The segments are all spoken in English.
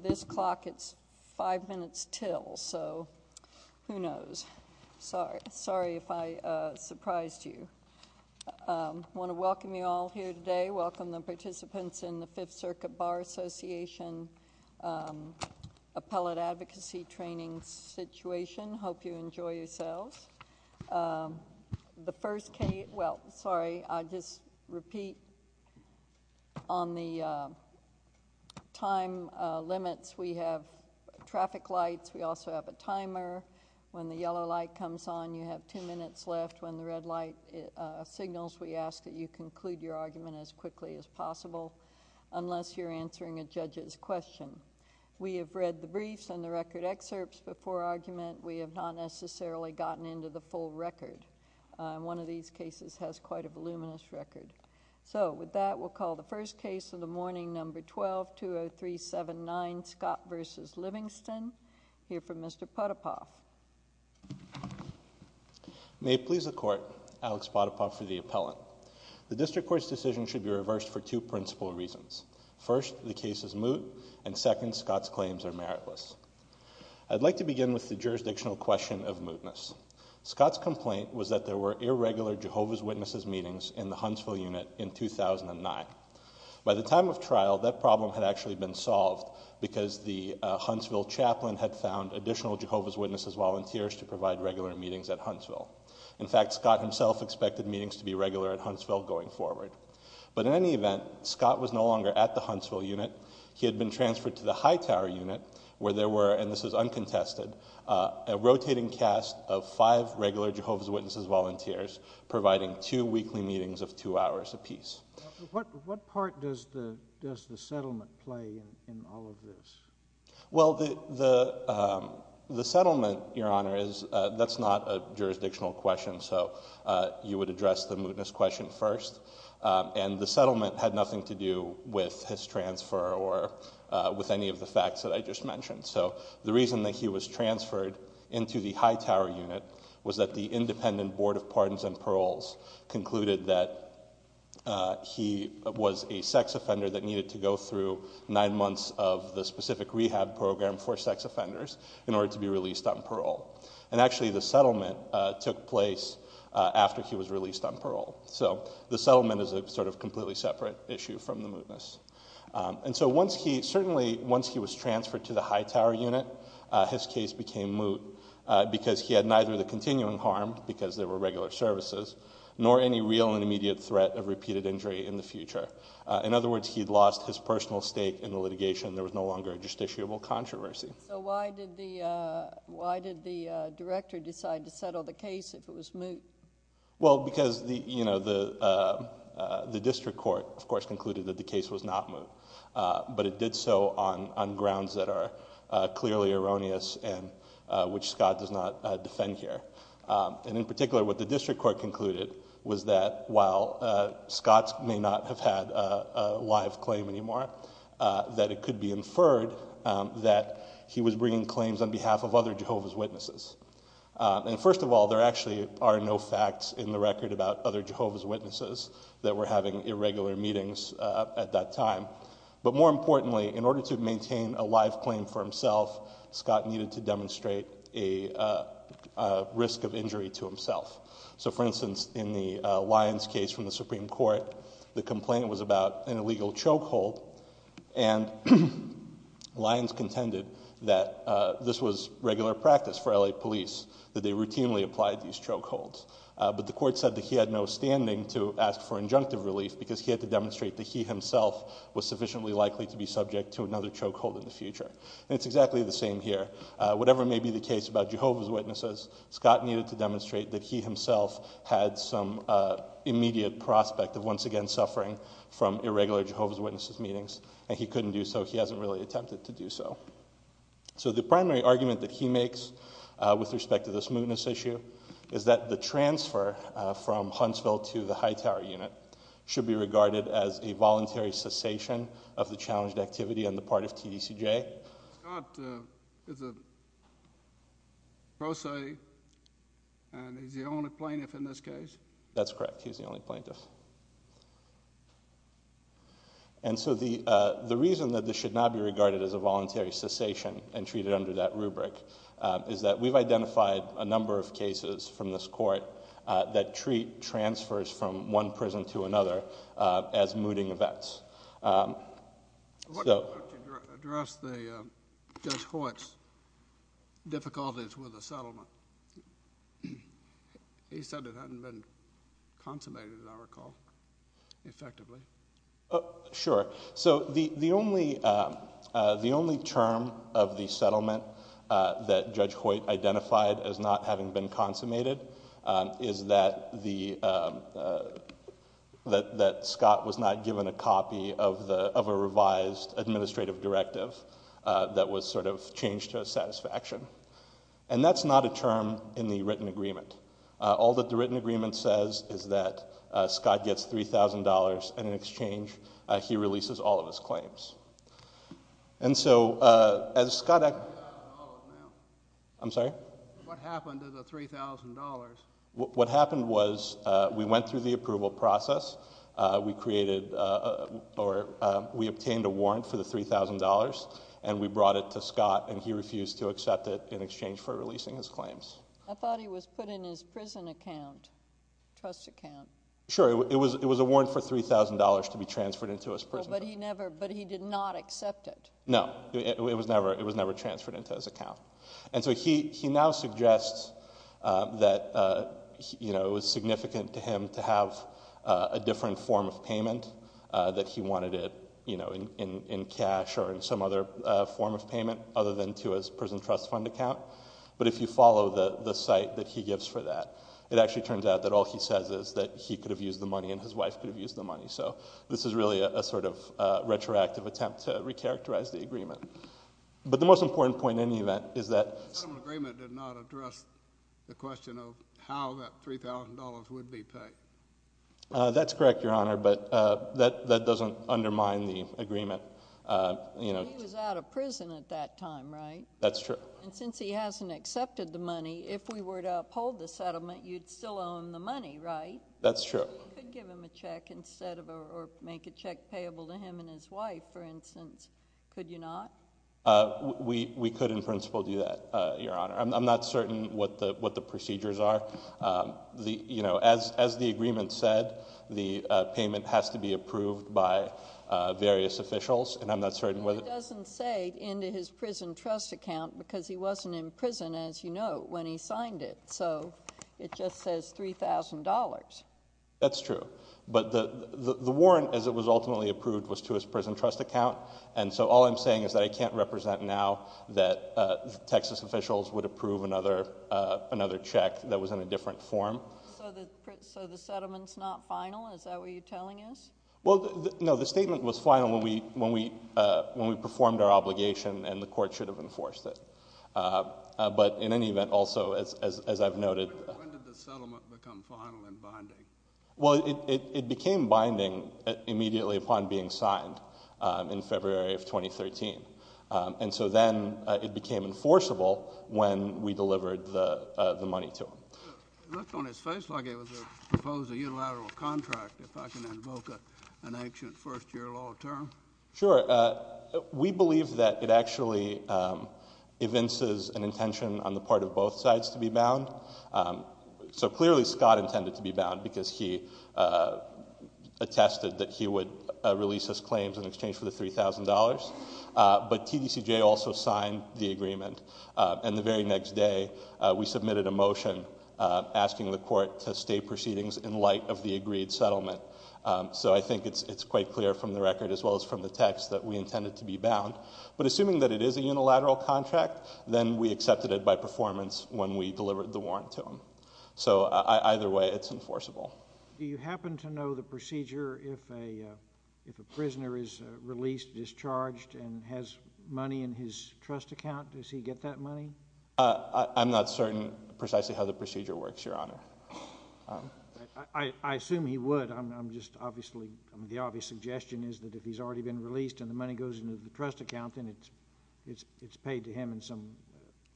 this clock it's five minutes till so who knows sorry sorry if i uh... surprised you uh... wanna welcome you all here today welcome the participants in the fifth circuit bar association uh... appellate advocacy training situation hope you enjoy yourselves uh... the first k well sorry i'd just repeat on the uh... time uh... limits we have traffic lights we also have a timer when the yellow light comes on you have two minutes left when the red light uh... signals we ask that you conclude your argument as quickly as possible unless you're answering a judge's question we have read the briefs and the record excerpts before argument we have not necessarily gotten into the full record uh... one of these cases has quite a voluminous record so with that we'll call the first case of the morning number twelve two oh three seven nine scott versus livingston here for mister potapoff may it please the court alex potapoff for the appellant the district court's decision should be reversed for two principal reasons first the case is moot and second scott's claims are meritless i'd like to begin with the jurisdictional question of mootness scott's complaint was that there were irregular jehovah's witnesses meetings in the huntsville unit in two thousand nine by the time of trial that problem had actually been solved because the uh... huntsville chaplain had found additional jehovah's witnesses volunteers to provide regular meetings at huntsville in fact scott himself expected meetings to be regular at huntsville going forward but in any event scott was no longer at the huntsville unit he had been transferred to the high tower unit where there were and this is uncontested uh... a rotating cast of five regular jehovah's witnesses volunteers providing two weekly meetings of two hours a piece what what part does the does the settlement play in all of this well the the uh... the settlement your honor is uh... that's not a jurisdictional question so uh... you would address the mootness question first uh... and the settlement had nothing to do with his transfer or uh... with any of the facts that i just mentioned so the reason that he was transferred into the high tower unit was that the independent board of pardons and paroles concluded that uh... he was a sex offender that needed to go through nine months of the specific rehab program for sex offenders in order to be released on parole and actually the settlement uh... took place uh... after he was released on parole the settlement is a sort of completely separate issue from the mootness uh... and so once he certainly once he was transferred to the high tower unit uh... his case became moot uh... because he had neither the continuing harm because they were regular services nor any real and immediate threat of repeated injury in the future uh... in other words he'd lost his personal stake in the litigation there was no longer a justiciable controversy so why did the director decide to settle the case if it was moot well because the you know the uh... uh... the district court of course concluded that the case was not moot uh... but it did so on on grounds that are uh... clearly erroneous and which scott does not defend here uh... and in particular what the district court concluded was that while uh... scott may not have had a live claim anymore uh... that it could be inferred uh... that he was bringing claims on behalf of other Jehovah's Witnesses uh... and first of all there actually are no facts in the record about other Jehovah's Witnesses that were having irregular meetings uh... at that time but more importantly in order to maintain a live claim for himself scott needed to demonstrate a uh... uh... risk of injury to himself so for instance in the uh... Lyons case from the supreme court the complaint was about an illegal choke hold and Lyons contended that uh... this was regular practice for L.A. police that they routinely applied these choke holds uh... but the court said that he had no standing to ask for injunctive relief because he had to demonstrate that he himself was sufficiently likely to be subject to another choke hold in the future it's exactly the same here uh... whatever may be the case about Jehovah's Witnesses scott needed to demonstrate that he himself had some uh... immediate prospect of once again suffering from irregular Jehovah's Witnesses meetings and he couldn't do so he hasn't really attempted to do so so the primary argument that he makes uh... with respect to this mootness issue is that the transfer from Huntsville to the Hightower unit should be regarded as a voluntary cessation of the challenged activity on the part of TDCJ Scott is a pro se and he's the only plaintiff in this case that's correct he's the only plaintiff and so the uh... the reason that this should not be regarded as a voluntary cessation and treated under that rubric uh... is that we've identified a number of cases from this court uh... that treat transfers from one prison to another uh... as mooting events uh... so why don't you address Judge Hoyt's difficulties with the settlement he said it hadn't been consummated as I recall effectively uh... sure so the only uh... uh... the only term of the settlement uh... that Judge Hoyt identified as not having been consummated uh... is that the uh... that that Scott was not given a copy of the of a revised administrative directive uh... that was sort of changed to a satisfaction and that's not a term in the written agreement uh... all that the written agreement says is that uh... Scott gets three thousand dollars and in exchange uh... he releases all of his claims and so uh... as Scott I'm sorry what happened to the three thousand dollars what happened was uh... we went through the approval process uh... we created uh... or uh... we obtained a warrant for the three thousand dollars and we brought it to Scott and he refused to accept it in exchange for releasing his claims I thought he was put in his prison account trust account sure it was it was a warrant for three thousand dollars to be transferred into his prison account but he never but he did not accept it no it was never it was never transferred into his account and so he he now suggests uh... that uh... you know it was significant to him to have uh... a different form of payment uh... that he wanted it you know in in in cash or in some other uh... form of payment other than to his prison trust fund account but if you follow the the site that he gives for that it actually turns out that all he says is that he could have used the money and his wife could have used the money so this is really a a sort of uh... retroactive attempt to recharacterize the agreement but the most important point in the event is that the settlement agreement did not address the question of how that three thousand dollars would be paid uh... that's correct your honor but uh... that that doesn't undermine the agreement uh... you know he was out of prison at that time right that's true and since he hasn't accepted the money if we were to uphold the settlement you'd still own the money right that's true you could give him a check instead of or make a check payable to him and his wife for instance could you not uh... we we could in principle do that uh... your honor i'm not certain what the what the procedures are uh... the you know as as the agreement said the uh... payment has to be approved by uh... various officials and i'm not certain whether it doesn't say into his prison trust account because he wasn't in prison as you know when he signed it so it just says three thousand dollars that's true but the the the warrant as it was ultimately approved was to his prison trust account and so all i'm saying is that i can't represent now that uh... texas officials would approve another uh... another check that was in a different form so the settlement's not final is that what you're telling us well no the statement was final when we when we uh... when we performed our obligation and the court should have enforced it uh... but in any event also as as as i've noted when did the settlement become final in binding well it it it became binding immediately upon being signed uh... in february of twenty thirteen uh... and so then uh... it became enforceable when we delivered the uh... the money to him it looked on his face like it was a proposed a unilateral contract if i can invoke an ancient first year law term sure uh... we believe that it actually uh... evinces an intention on the part of both sides to be bound so clearly scott intended to be bound because he uh... in exchange for the three thousand dollars uh... but tdcj also signed the agreement uh... and the very next day uh... we submitted a motion uh... asking the court to state proceedings in light of the agreed settlement uh... so i think it's it's quite clear from the record as well as from the text that we intended to be bound but assuming that it is a unilateral contract then we accepted it by performance when we delivered the warrant to him so uh... either way it's enforceable do you happen to know the procedure if a prisoner is uh... released discharged and has money in his trust account does he get that money uh... i'm not certain precisely how the procedure works your honor i'd i'd assume he would i'm i'm just obviously the obvious suggestion is that if he's already been released and the money goes into the trust account then it's it's paid to him in some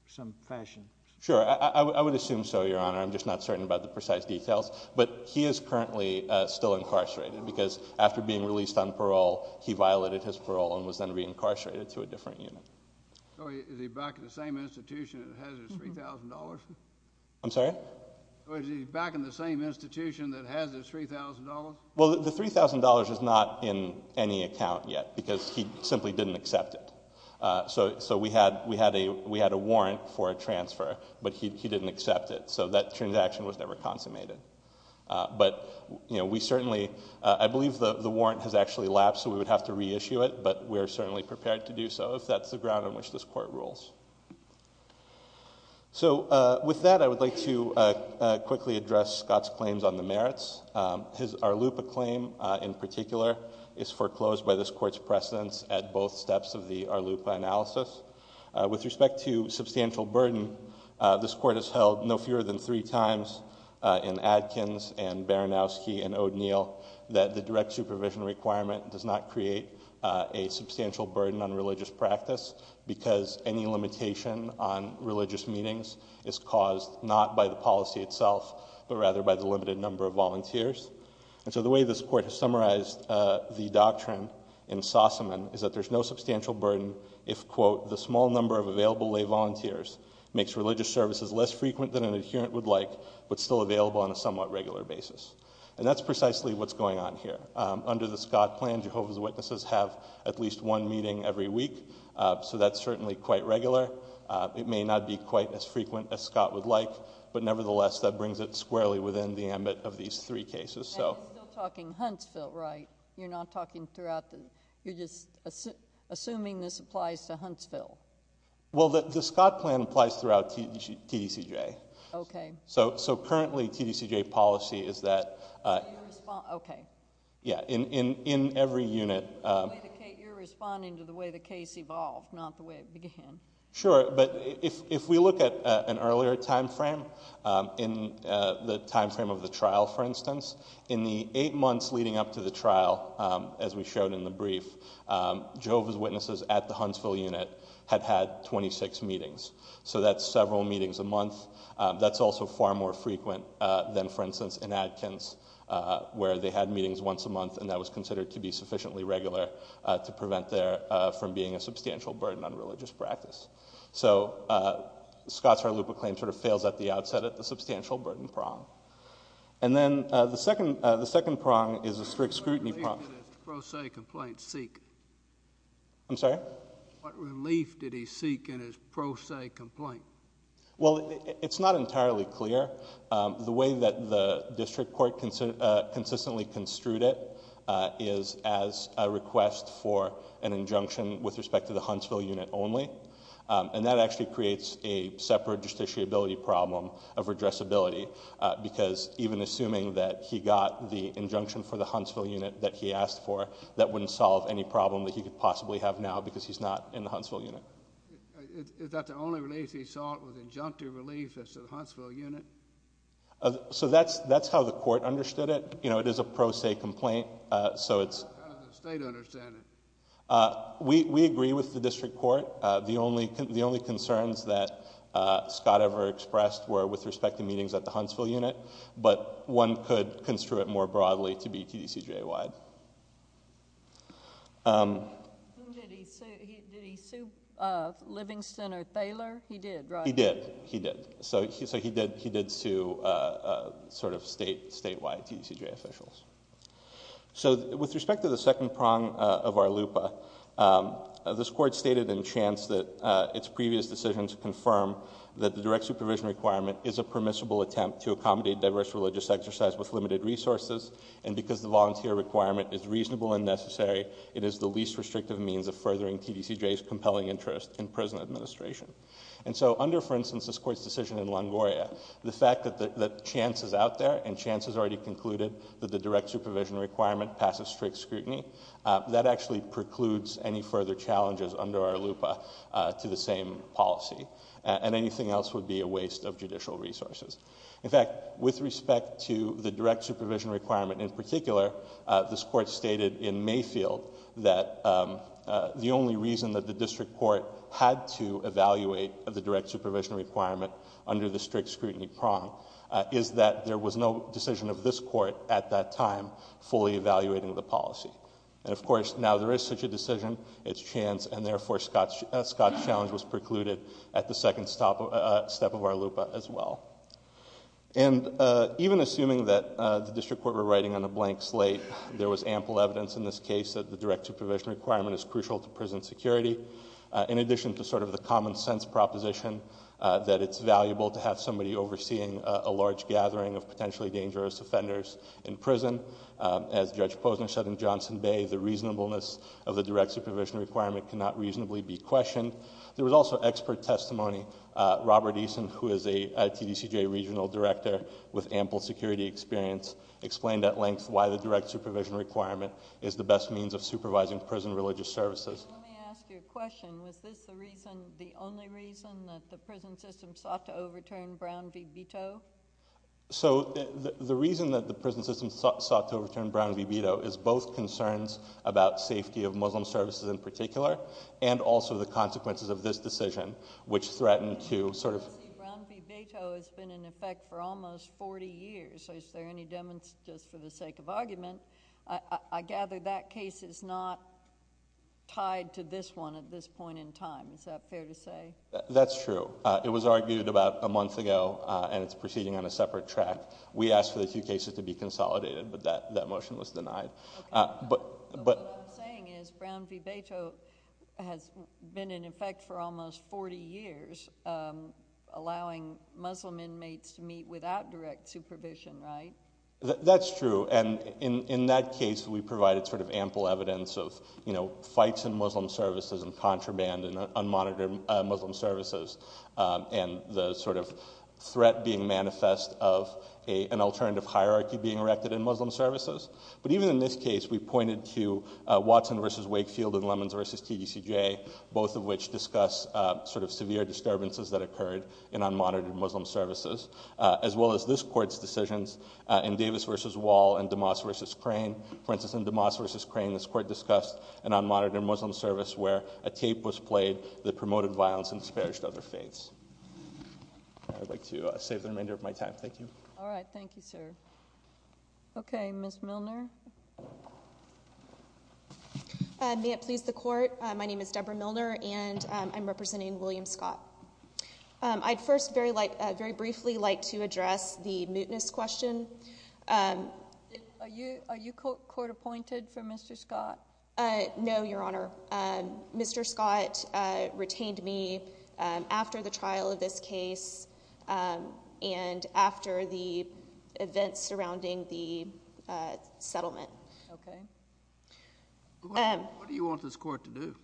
some fashion sure i i i i would assume so your honor i'm just not certain about the precise details but he is currently uh... still incarcerated because after being released on parole he violated his parole and was then reincarcerated to a different unit so is he back in the same institution that has his three thousand dollars? i'm sorry? so is he back in the same institution that has his three thousand dollars? well the three thousand dollars is not in any account yet because he simply didn't accept it uh... so so we had we had a we had a warrant for a transfer but he didn't accept it so that transaction was never consummated uh... but you know we certainly i believe that the warrant has actually lapsed so we would have to reissue it but we're certainly prepared to do so if that's the ground on which this court rules so uh... with that i would like to uh... quickly address scott's claims on the merits uh... his our lupa claim uh... in particular is foreclosed by this court's precedence at both steps of the our lupa analysis uh... with respect to substantial burden uh... this court has held no fewer than three times uh... in adkins and baranowski and o'deal that the direct supervision requirement does not create uh... a substantial burden on religious practice because any limitation on religious meetings is caused not by the policy itself but rather by the limited number of volunteers and so the way this court has summarized uh... the doctrine in sossaman is that there's no substantial burden if quote the small number of available lay volunteers makes religious services less frequent than an adherent would like but still available on a somewhat regular basis and that's precisely what's going on here uh... under the scott plan jehovah's witnesses have at least one meeting every week uh... so that's certainly quite regular uh... it may not be quite as frequent as scott would like but nevertheless that brings it squarely within the ambit of these three cases so and you're still talking huntsville right you're not talking throughout the you're just assuming this applies to huntsville well that the scott plan applies throughout tdcj okay so so currently tdcj policy is that uh... yeah in in in every unit uh... you're responding to the way the case evolved not the way it began sure but if if we look at uh... an earlier time frame uh... in uh... the time frame of the trial for instance in the eight months leading up to the trial uh... as we showed in the brief uh... jehovah's witnesses at the huntsville unit had had twenty six meetings so that several meetings a month uh... that's also far more frequent uh... than for instance in adkins uh... where they had meetings once a month and that was considered to be sufficiently regular uh... to prevent their uh... from being a substantial burden on religious practice so uh... scott's harloupa claim sort of fails at the outset of the substantial burden prong and then uh... the second uh... the second prong is a strict scrutiny prong pro se complaints seek I'm sorry what relief did he seek in his pro se complaint well it's not entirely clear uh... the way that the district court considered uh... consistently construed it uh... is as a request for an injunction with respect to the huntsville unit only uh... and that actually creates a separate justiciability problem of redressability uh... because even assuming that he got the injunction for the huntsville unit that he asked for that wouldn't solve any problem that he could possibly have now because he's not in the huntsville unit is that the only relief he sought was injunctive relief as to the huntsville unit uh... so that's that's how the court understood it you know it is a pro se complaint uh... so it's how does the state understand it uh... we we agree with the district court uh... the only the only concerns that uh... scott ever expressed were with respect to meetings at the huntsville unit but one could construe it more broadly to be tdcj wide uh... did he sue uh... livingston or thaler he did right? he did so he did he did sue uh... uh... sort of state statewide tdcj officials so with respect to the second prong of our lupa uh... this court stated in chance that uh... its previous decisions confirm that the direct supervision requirement is a permissible attempt to accommodate diverse religious exercise with limited resources and because the volunteer requirement is reasonable and necessary it is the least restrictive means of furthering tdcj's compelling interest in prison administration and so under for instance this court's decision in longoria the fact that that chance is out there and chance has already concluded that the direct supervision requirement passes strict scrutiny uh... that actually precludes any further challenges under our lupa uh... to the same policy and anything else would be a waste of judicial resources in fact with respect to the direct supervision requirement in particular uh... this court stated in mayfield that uh... uh... the only reason that the district court had to evaluate the direct supervision requirement under the strict scrutiny prong uh... is that there was no decision of this court at that time fully evaluating the policy and of course now there is such a decision it's chance and therefore scott's challenge was precluded at the second step of our lupa as well and uh... even assuming that uh... the district court were writing on a blank slate there was ample evidence in this case that the direct supervision requirement is crucial to prison security uh... in addition to sort of the common sense proposition uh... that it's valuable to have somebody overseeing uh... a large gathering of potentially dangerous offenders in prison uh... as judge posner said in johnson bay the reasonableness of the direct supervision requirement cannot reasonably be questioned there was also expert testimony uh... robert eason who is a tdcj regional director with ample security experience explained at length why the direct supervision requirement is the best means of supervising prison religious services so the reason that the prison system sought to overturn brown v veto is both concerns about safety of muslim services in particular and also the consequences of this decision which threatened to sort of brown v veto has been in effect for almost forty years so is there any demonstration for the sake of argument i gather that case is not tied to this one at this point in time is that fair to say that's true it was argued about a month ago and it's proceeding on a separate track we asked for the two cases to be consolidated but that that motion was denied but what i'm saying is brown v veto has been in effect for almost forty years allowing muslim inmates to meet without direct supervision right that's true and in in that case we provided sort of ample evidence of you know fights in muslim services and contraband and unmonitored muslim services uh... and the sort of threat being manifest of an alternative hierarchy being erected in muslim services but even in this case we pointed to uh... watson versus wakefield and lemons versus tdcj both of which discuss uh... sort of severe disturbances that occurred in unmonitored muslim services uh... as well as this court's decisions uh... in davis versus wall and damas versus crane for instance in damas versus crane this court discussed an unmonitored muslim service where a tape was played that promoted violence and disparaged other faiths i'd like to uh... save the remainder of my time thank you alright thank you sir okay miss milner uh... may it please the court my name is deborah milner and uh... i'm representing william scott uh... i'd first very like uh... very briefly like to address the mootness question uh... are you court appointed for mister scott uh... no your honor uh... mister scott uh... retained me uh... after the trial of this case uh... and after the events surrounding the uh... settlement what do you want this court to do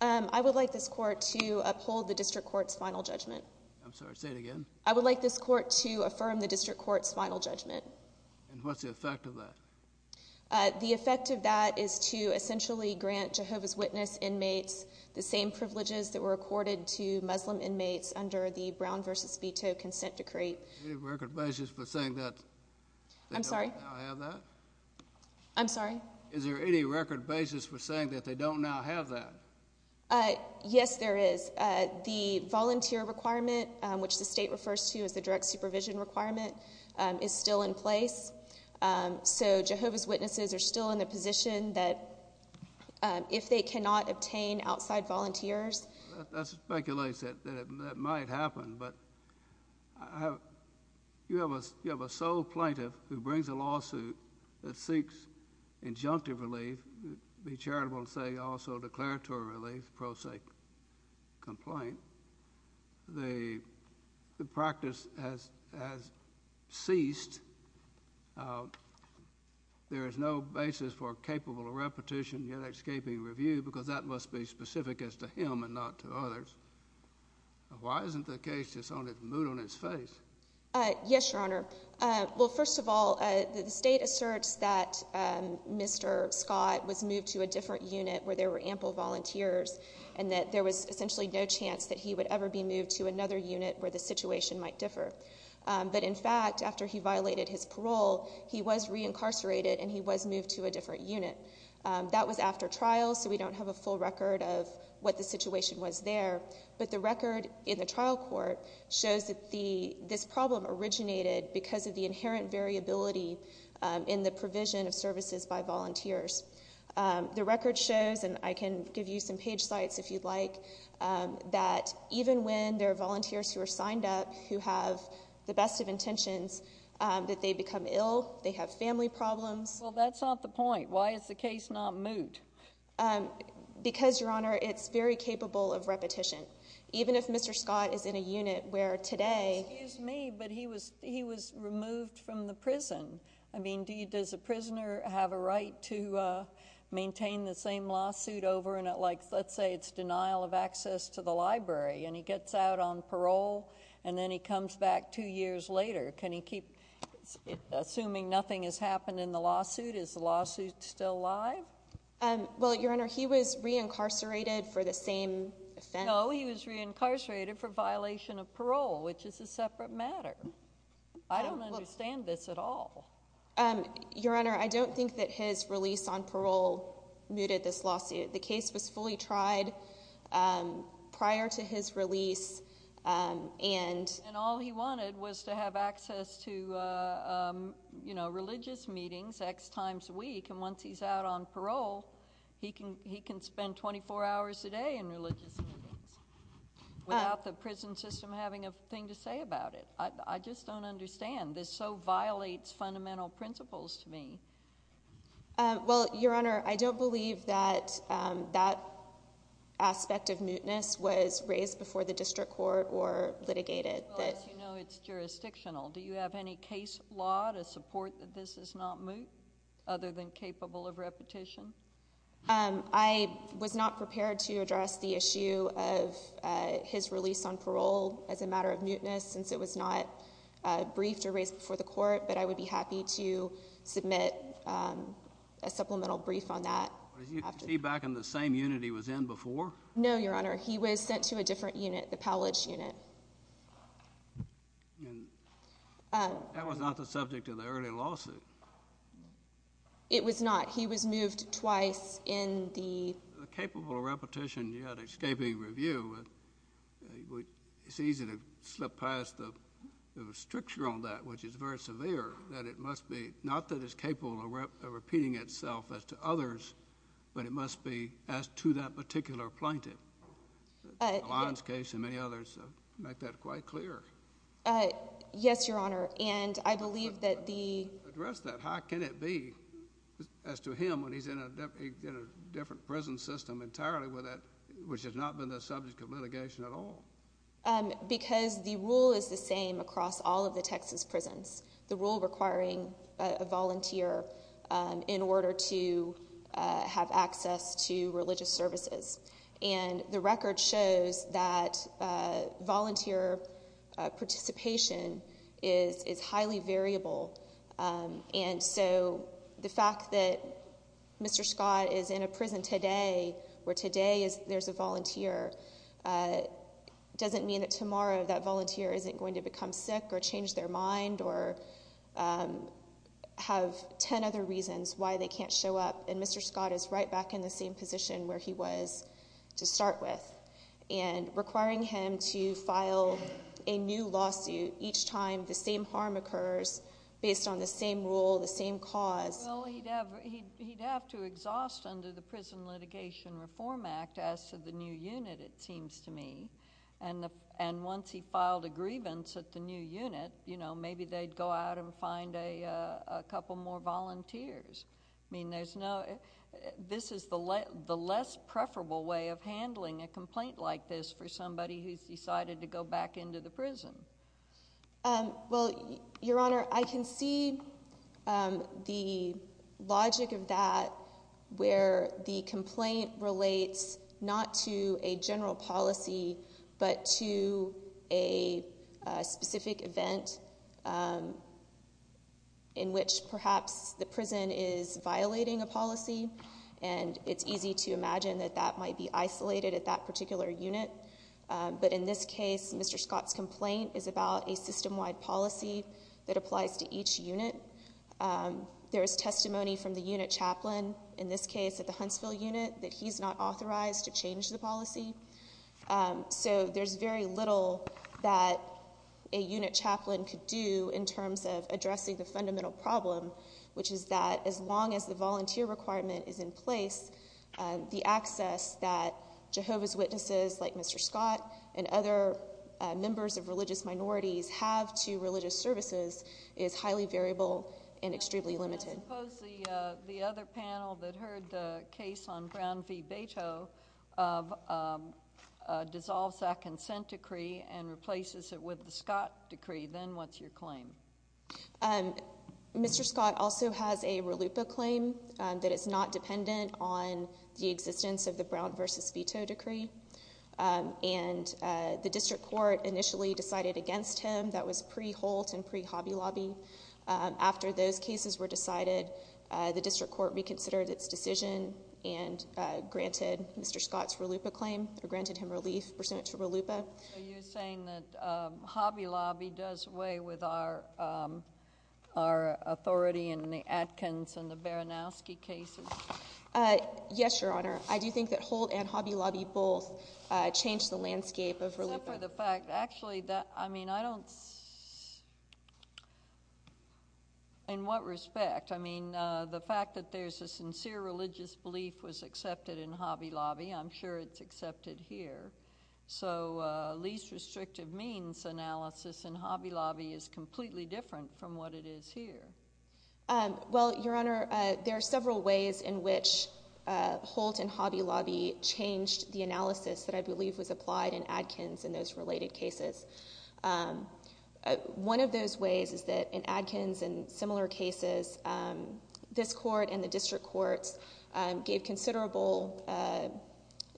uh... i would like this court to uphold the district court's final judgment i'm sorry say it again i would like this court to affirm the district court's final judgment and what's the effect of that uh... the effect of that is to essentially grant jehovah's witness inmates the same privileges that were accorded to muslim inmates under the brown versus uh... i'm sorry i'm sorry is there any record basis for saying that they don't now have that uh... yes there is uh... the volunteer requirement which the state refers to as the direct supervision requirement uh... is still in place uh... so jehovah's witnesses are still in a position that uh... if they cannot obtain outside volunteers that speculates that that might happen but you have a sole plaintiff who brings a lawsuit that seeks injunctive relief be charitable and say also declaratory relief pro se complaint the the practice has ceased there is no basis for capable of repetition yet escaping review because that must be specific as to him and not to others why isn't the case just on the mood on his face uh... yes your honor uh... well first of all uh... the state asserts that uh... mister scott was moved to a different unit where there were ample volunteers and that there was essentially no chance that he would ever be moved to another unit where the situation might differ uh... but in fact after he violated his parole he was reincarcerated and he was moved to a different unit uh... that was after trial so we don't have a full record of the situation was there but the record in the trial court says that the this problem originated because of the inherent variability uh... in the provision of services by volunteers uh... the record shows and i can give you some page sites if you'd like uh... that even when their volunteers who are signed up who have the best of intentions uh... that they become ill they have family problems so that's not the point why is the case not moved because your honor it's very capable of repetition even if mister scott is in a unit where today excuse me but he was he was removed from the prison i mean do you does a prisoner have a right to uh... maintain the same lawsuit over and like let's say it's denial of access to the library and he gets out on parole and then he comes back two years later can he keep assuming nothing has happened in the lawsuit is the lawsuit still alive and well your honor he was reincarcerated for the same no he was reincarcerated for violation of parole which is a separate matter i don't understand this at all uh... your honor i don't think that his release on parole muted this lawsuit the case was fully tried uh... prior to his release uh... and and all he wanted was to have access to uh... you know religious meetings x times a week and once he's out on parole he can he can spend twenty four hours a day in religious without the prison system having a thing to say about it i'd i'd just don't understand this so violates fundamental principles to me uh... well your honor i don't believe that uh... that aspect of muteness was raised before the district court or litigated that as you know it's jurisdictional do you have any case law to support that this is not moot other than capable of repetition uh... i was not prepared to address the issue of uh... his release on parole as a matter of muteness since it was not uh... briefed or raised before the court but i would be happy to submit uh... a supplemental brief on that as you can see back in the same unit he was in before no your honor he was sent to a different unit the pallage unit uh... that was not the subject of the early lawsuit it was not he was moved twice in the capable of repetition you had escaping review it's easy to slip past the restriction on that which is very severe that it must be not that it's capable of repeating itself as to others but it must be as to that particular plaintiff uh... alliance case and many others make that quite clear uh... yes your honor and i believe that the address that how can it be as to him when he's in a different prison system entirely with that which has not been the subject of litigation at all uh... because the rule is the same across all of the texas prisons the rule requiring uh... a volunteer uh... in order to uh... have access to religious services and the record shows that uh... volunteer uh... participation is is highly variable uh... and so the fact that mister scott is in a prison today where today is there's a volunteer uh... doesn't mean that tomorrow that volunteer isn't going to become sick or change their mind or uh... have ten other reasons why they can't show up and mister scott is right back in the same position where he was to start with and requiring him to file a new lawsuit each time the same harm occurs based on the same rule the same cause well he'd have to exhaust under the prison litigation reform act as to the new unit it seems to me and once he filed a grievance at the new unit you know maybe they'd go out and find a uh... a couple more volunteers mean there's no this is the less the less preferable way of handling a complaint like this for somebody who's decided to go back into the prison uh... well your honor i can see uh... the logic of that where the complaint relates not to a general policy but to a uh... specific event uh... in which perhaps the prison is violating a policy and it's easy to imagine that that might be isolated at that particular unit uh... but in this case mister scott's complaint is about a system-wide policy that applies to each unit uh... there's testimony from the unit chaplain in this case at the huntsville unit that he's not authorized to change the policy uh... so there's very little that a unit chaplain could do in terms of addressing the fundamental problem which is that as long as the volunteer requirement is in place uh... the access that jehovah's witnesses like mister scott and other uh... members of religious minorities have to religious services is highly variable and extremely limited i suppose the uh... the other panel that heard the case on brown v. beto of uh... uh... dissolves that consent decree and replaces it with the scott decree then what's your claim mister scott also has a ralupa claim that it's not dependent on the existence of the brown versus veto decree uh... and uh... the district court initially decided against him that was pre-holt and pre-habi-labi uh... after those cases were decided uh... the district court reconsidered its decision and uh... granted mister scott's ralupa claim or granted him relief pursuant to ralupa so you're saying that uh... habi-labi does away with our our authority in the atkins and the baranowski cases uh... yes your honor i do think that holt and habi-labi both uh... change the landscape of ralupa except for the fact actually that i mean i don't in what respect i mean uh... the fact that there's a sincere religious belief was accepted in habi-labi i'm sure it's accepted here so uh... least restrictive means analysis in habi-labi is completely different from what it is here uh... well your honor uh... there are several ways in which uh... holt and habi-labi changed the analysis that i believe was applied in atkins in those related cases uh... uh... one of those ways is that in atkins and similar cases uh... this court and the district courts uh... gave considerable uh...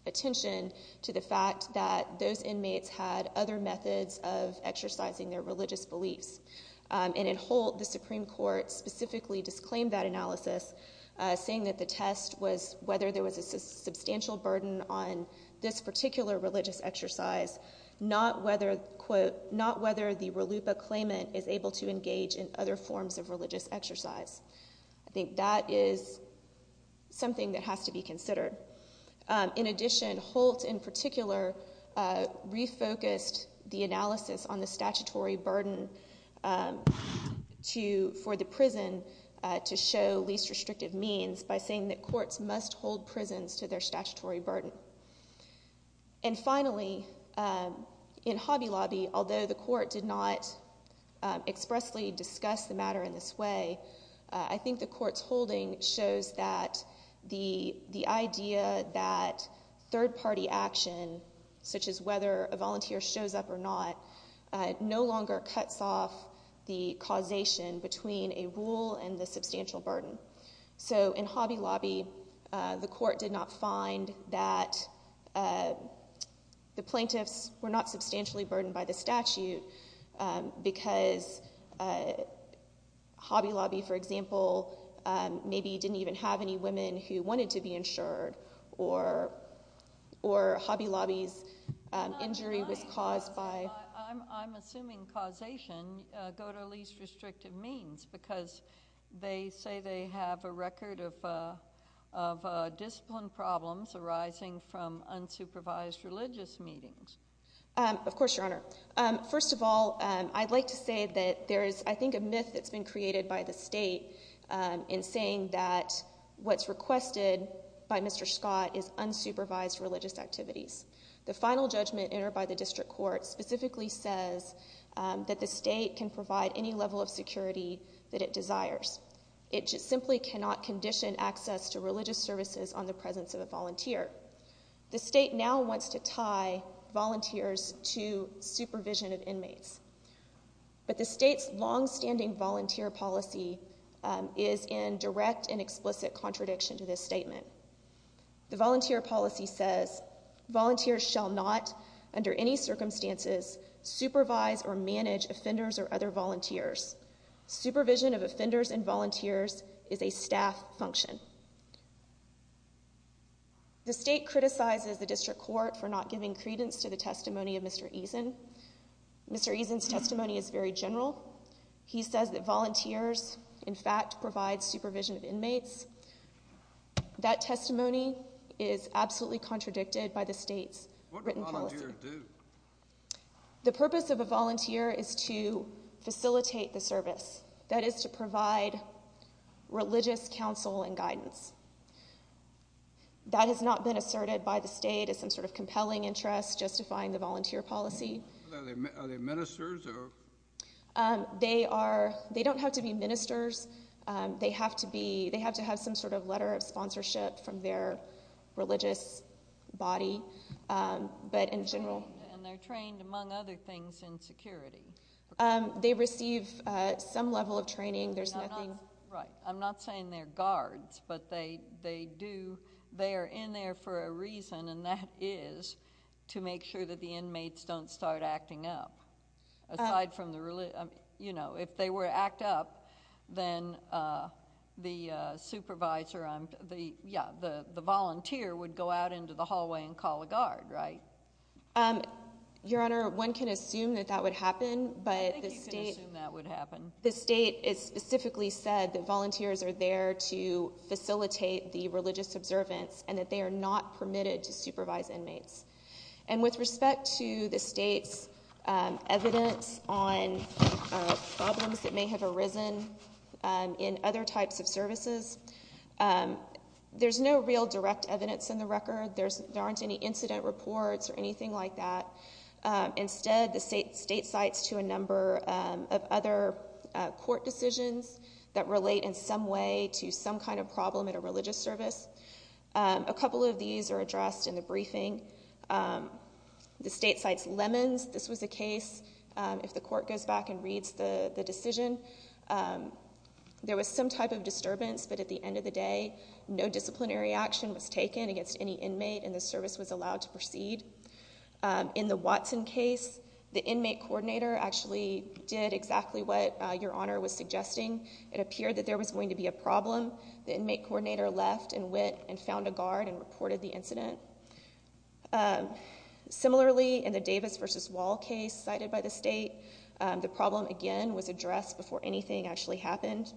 attention to the fact that those inmates had other methods of exercising their religious beliefs uh... and in holt the supreme court specifically disclaimed that analysis uh... saying that the test was whether there was a substantial burden on this particular religious exercise not whether quote not whether the ralupa claimant is able to engage in other forms of religious exercise i think that is something that has to be considered uh... in addition holt in particular uh... refocused the analysis on the statutory burden uh... to for the prison uh... to show least restrictive means by saying that courts must hold prisons to their statutory burden and finally uh... in habi-labi although the court did not uh... expressly discuss the matter in this way uh... i think the court's holding shows that the the idea that third-party action such as whether a volunteer shows up or not uh... no longer cuts off the causation between a rule and the substantial burden so in habi-labi uh... the court did not find that uh... the plaintiffs were not substantially burdened by the statute uh... because uh... habi-labi for example uh... maybe didn't even have any women who wanted to be insured or or habi-labi's uh... injury was caused by i'm assuming causation go to least restrictive means because they say they have a record of uh... of uh... discipline problems arising from unsupervised religious meetings uh... of course your honor uh... first of all and i'd like to say that there is i think a myth that's been created by the state uh... in saying that what's requested by mister scott is unsupervised religious activities the final judgment entered by the district court specifically says uh... that the state can provide any level of security that it desires it just simply cannot condition access to religious services on the presence of a volunteer the state now wants to tie volunteers to supervision of inmates but the state's long-standing volunteer policy uh... is in direct and explicit contradiction to this statement the volunteer policy says volunteers shall not under any circumstances supervise or manage offenders or other volunteers supervision of offenders and volunteers is a staff function the state criticizes the district court for not giving credence to the testimony of mister eason mister eason's testimony is very general he says that volunteers in fact provide supervision of inmates that testimony is absolutely contradicted by the state's written policy the purpose of a volunteer is to facilitate the service that is to provide religious counsel and guidance that has not been asserted by the state as some sort of compelling interest justifying the volunteer policy are they ministers or uh... they are they don't have to be ministers uh... they have to be they have to have some sort of letter of sponsorship from their religious body uh... but in general and they're trained among other things in security uh... they receive uh... some level of training there's nothing right i'm not saying they're guards but they they do they're in there for a reason and that is to make sure that the inmates don't start acting up aside from the religious you know if they were to act up then uh... the uh... supervisor uh... the yeah the the volunteer would go out into the hallway and call a guard right your honor one can assume that that would happen but I think you can assume that would happen the state has specifically said that volunteers are there to facilitate the religious observance and that they are not permitted to supervise inmates and with respect to the state's uh... evidence on problems that may have arisen uh... in other types of services uh... there's no real direct evidence in the record there's there aren't any incident reports or anything like that uh... instead the state statesites to a number uh... of other uh... court decisions that relate in some way to some kind of problem in a religious service uh... a couple of these are addressed in the briefing uh... the statesites lemons this was a case uh... if the court goes back and reads the the decision uh... there was some type of disturbance but at the end of the day no disciplinary action was taken against any inmate and the service was allowed to proceed uh... in the Watson case the inmate coordinator actually did exactly what your honor was suggesting it appeared that there was going to be a problem the inmate coordinator left and went and found a guard and reported the incident uh... uh... the problem again was addressed before anything actually happened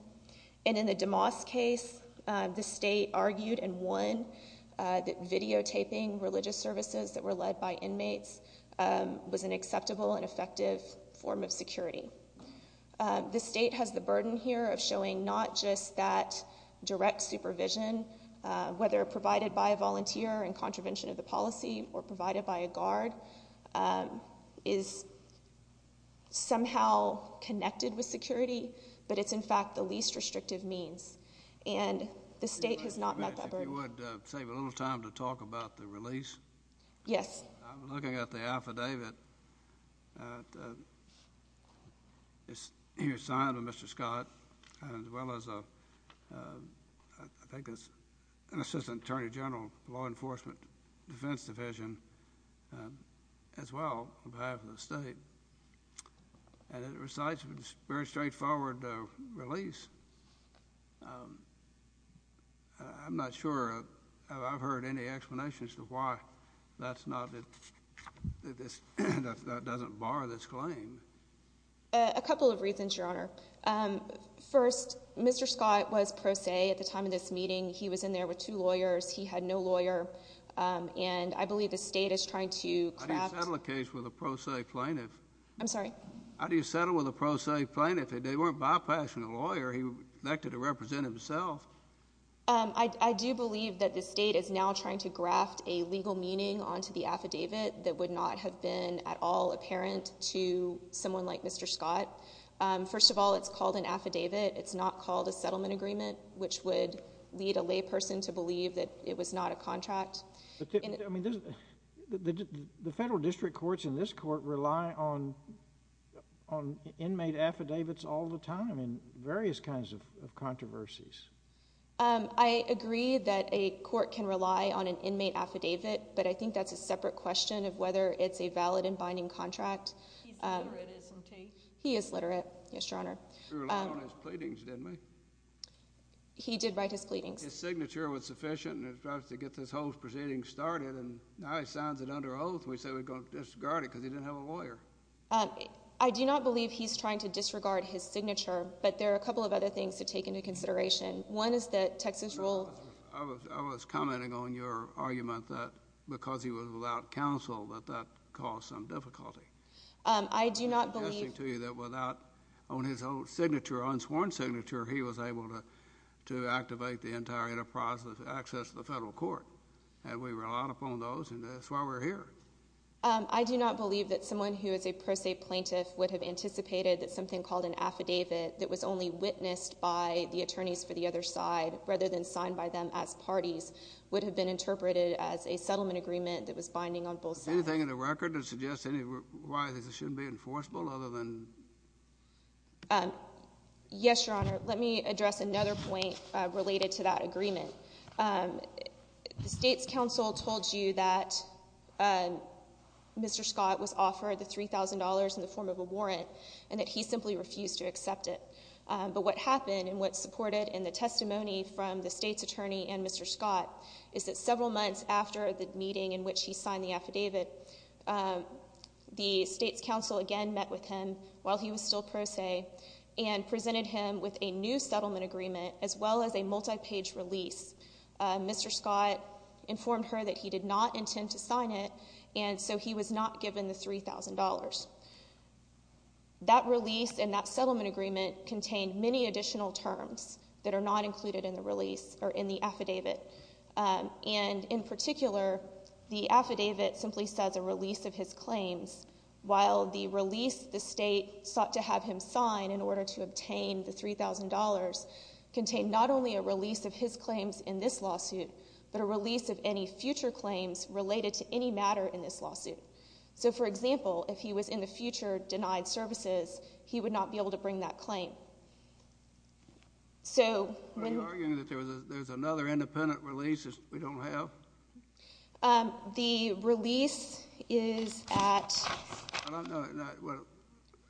and in the DeMoss case uh... the state argued and won uh... that videotaping religious services that were led by inmates uh... was an acceptable and effective form of security uh... the state has the burden here of showing not just that direct supervision uh... whether provided by a volunteer in contravention of the policy or provided by a guard uh... is somehow connected with security but it's in fact the least restrictive means and the state has not met that burden. If you would uh... save a little time to talk about the release yes I'm looking at the affidavit uh... uh... here signed by Mr. Scott as well as uh... I think it's an assistant attorney general law enforcement defense division uh... as well on behalf of the state and it recites a very straightforward uh... release uh... I'm not sure I've heard any explanations as to why that's not that this doesn't bar this claim uh... a couple of reasons your honor uh... first Mr. Scott was pro se at the time of this meeting he was in there with two lawyers he had no lawyer uh... and I believe the state is trying to craft how do you settle a case with a pro se plaintiff how do you settle with a pro se plaintiff if they weren't bypassing a lawyer he elected to represent himself uh... I do believe that the state is now trying to graft a legal meaning onto the affidavit that would not have been at all apparent to someone like Mr. Scott uh... first of all it's called an affidavit it's not called a settlement agreement which would lead a lay person to believe that it was not a contract I mean the federal district courts in this court rely on on inmate affidavits all the time various kinds of controversies uh... I agree that a court can rely on an inmate affidavit but I think that's a separate question of whether it's a valid and binding contract he is literate yes your honor he relied on his pleadings didn't he he did write his pleadings his signature was sufficient to get this whole proceeding started and now he signs it under oath and we said we were going to disregard it because he didn't have a lawyer I do not believe he's trying to disregard his signature but there are a couple of other things to take into consideration one is that texas rule I was commenting on your argument that because he was without counsel that that caused some difficulty uh... I do not believe I'm suggesting to you that without on his own signature unsworn signature he was able to to activate the entire enterprise of access to the federal court and we relied upon those and that's why we're here uh... I do not believe that someone who is a pro se plaintiff would have anticipated that something called an affidavit that was only witnessed by the attorneys for the other side rather than signed by them as parties would have been interpreted as a settlement agreement that was binding on yes your honor let me address another point related to that agreement uh... the states council told you that Mr. Scott was offered the three thousand dollars in the form of a warrant and that he simply refused to accept it uh... but what happened and what supported in the testimony from the states attorney and Mr. Scott is that several months after the meeting in which he signed the affidavit the states council again met with him while he was still pro se and presented him with a new settlement agreement as well as a multi-page release uh... Mr. Scott informed her that he did not intend to sign it and so he was not given the three thousand dollars that release and that settlement agreement contained many additional terms that are not included in the release or in the affidavit uh... and in particular the affidavit simply says a release of his claims while the release the state sought to have him sign in order to obtain the three thousand dollars contained not only a release of his claims in this lawsuit but a release of any future claims related to any matter in this lawsuit so for example if he was in the future denied services he would not be able to bring that claim so are you arguing that there's another independent release that we don't have? uh... the release is at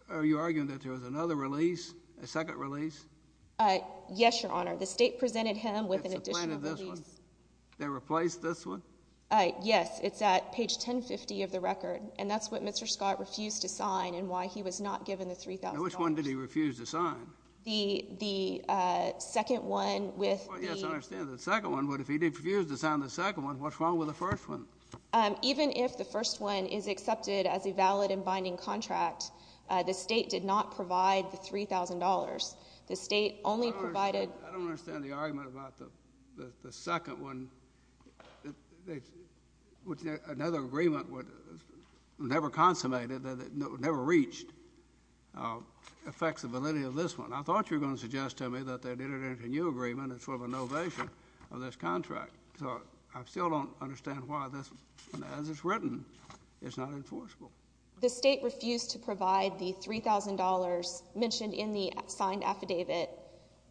are you arguing that there is another release? a second release? uh... yes your honor the state presented him with an additional release they replaced this one? uh... yes it's at page ten fifty of the record and that's what Mr. Scott refused to sign and why he was not given the three thousand dollars. Now which one did he refuse to sign? the uh... second one with the... well yes I understand the second one but if he did refuse to sign the second one what's wrong with the first one? uh... even if the first one is accepted as a valid and binding contract uh... the state did not provide the three thousand dollars the state only provided... I don't understand the argument about the the second one which another agreement never consummated, never reached affects the validity of this one. I thought you were going to suggest to me that they did it under a new agreement and sort of a novation of this contract I still don't understand why this as it's written it's not enforceable the state refused to provide the three thousand dollars mentioned in the signed affidavit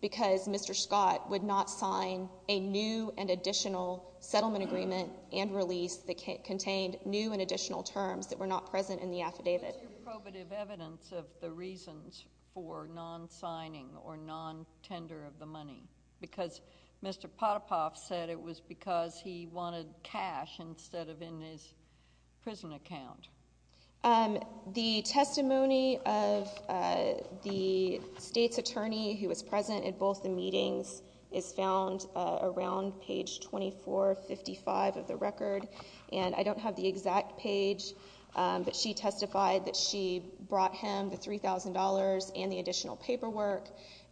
because Mr. Scott would not sign a new and additional settlement agreement and release that contained new and additional terms that were not present in the affidavit. What's your probative evidence of the reasons for non-signing or non-tender of the money? because Mr. Potapoff said it was because he wanted cash instead of in his prison account uh... the testimony of uh... the state's attorney who was present in both the meetings is found uh... around page twenty four fifty five of the record and I don't have the exact page uh... but she testified that she brought him the three thousand dollars and the additional paperwork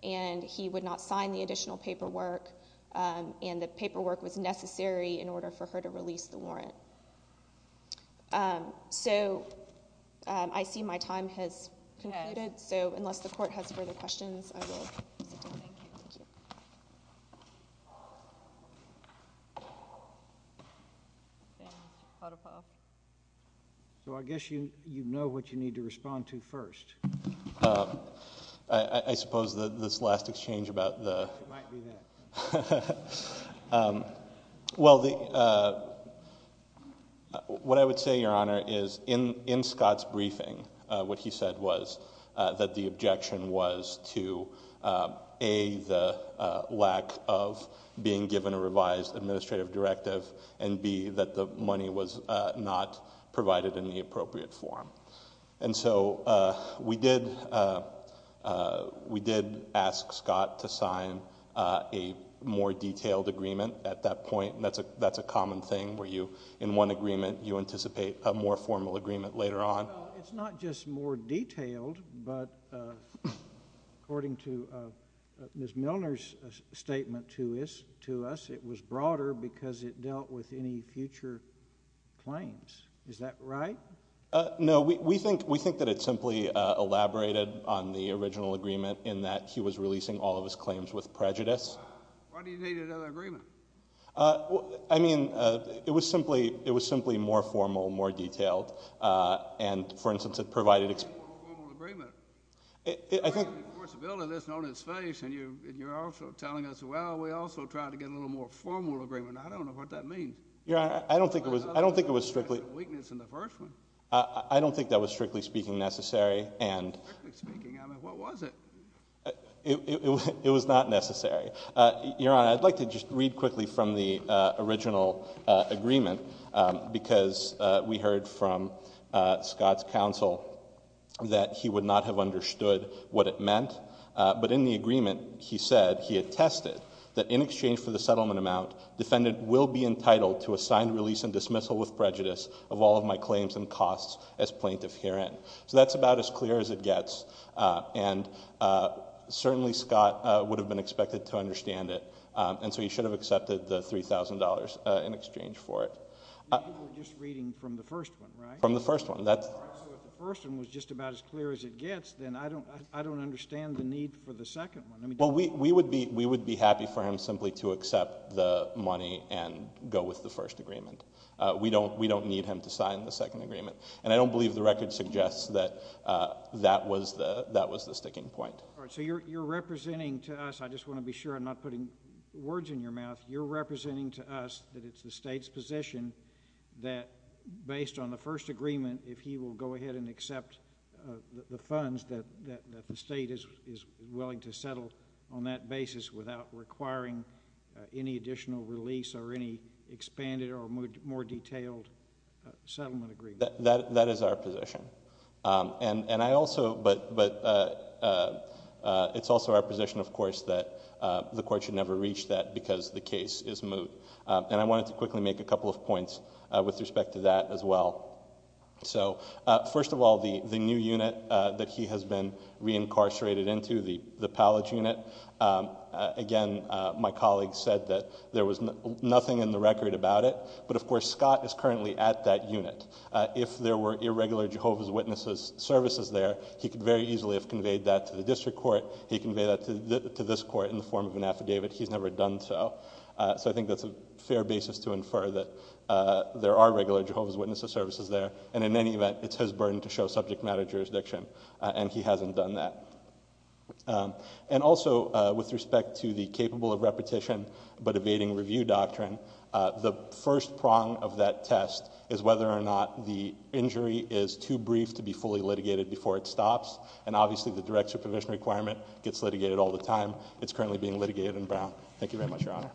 and he would not sign the additional paperwork uh... and the paperwork was necessary in order for her to release the warrant uh... so uh... I see my time has concluded so unless the court has further questions I will so I guess you know what you need to respond to first uh... I suppose that this last exchange about the uh... well the uh... what I would say your honor is in in Scott's briefing uh... what he said was uh... that the objection was to uh... a the uh... lack of being given a revised administrative directive and b that the money was uh... not provided in the appropriate form and so uh... we did uh... uh... we did ask Scott to sign uh... a more detailed agreement at that point that's a that's a common thing where you in one agreement you anticipate a more formal agreement later on it's not just more detailed according to uh... uh... Ms. Milner's statement to us to us it was broader because it dealt with any future claims is that right uh... no we we think we think that it simply elaborated on the original agreement in that he was releasing all of his claims with prejudice why do you need another agreement uh... I mean uh... it was simply it was simply more formal more detailed uh... and for instance it provided it I think of course the bill is on its face and you're also telling us well we also tried to get a little more formal agreement I don't know what that means your honor I don't think it was I don't think it was strictly uh... I don't think that was strictly speaking necessary and it was not necessary uh... your honor I'd like to just read quickly from the uh... original uh... agreement uh... because uh... we heard from uh... Scott's counsel that he would not have understood what it meant uh... but in the agreement he said he attested that in exchange for the settlement amount defendant will be entitled to a signed release and dismissal with prejudice of all of my claims and costs as plaintiff herein so that's about as clear as it gets uh... and uh... certainly scott uh... would have been expected to understand it uh... and so he should have accepted the three thousand dollars in exchange for it you were just reading from the first one right from the first one that's the first one was just about as clear as it gets then I don't I don't understand the need well we we would be we would be happy for him simply to accept the money and go with the first agreement uh... we don't we don't need him to sign the second agreement and I don't believe the record suggests that uh... that was the that was the sticking point so you're you're representing to us I just want to be sure I'm not putting words in your mouth you're representing to us that it's the state's position based on the first agreement if he will go ahead and accept the funds that the state is willing to settle on that basis without requiring any additional release or any expanded or more detailed settlement agreement that that is our position uh... and and I also but but uh... uh... it's also our position of course that uh... the court should never reach that because the case is moot uh... and I wanted to quickly make a couple of points uh... with respect to that as well uh... first of all the the new unit uh... that he has been reincarcerated into the the pallage unit uh... again uh... my colleague said that there was nothing in the record about it but of course Scott is currently at that unit uh... if there were irregular Jehovah's Witnesses services there he could very easily have conveyed that to the district court he conveyed that to this court in the form of an affidavit he's never done so uh... so I think that's a fair basis to infer that uh... there are regular Jehovah's Witnesses services there and in any event it's his burden to show subject matter jurisdiction and he hasn't done that uh... and also uh... with respect to the capable of repetition but evading review doctrine uh... the first prong of that test is whether or not the injury is too brief to be fully litigated before it stops and obviously the direct supervision requirement gets litigated all the time it's currently being litigated in Brown thank you very much your honor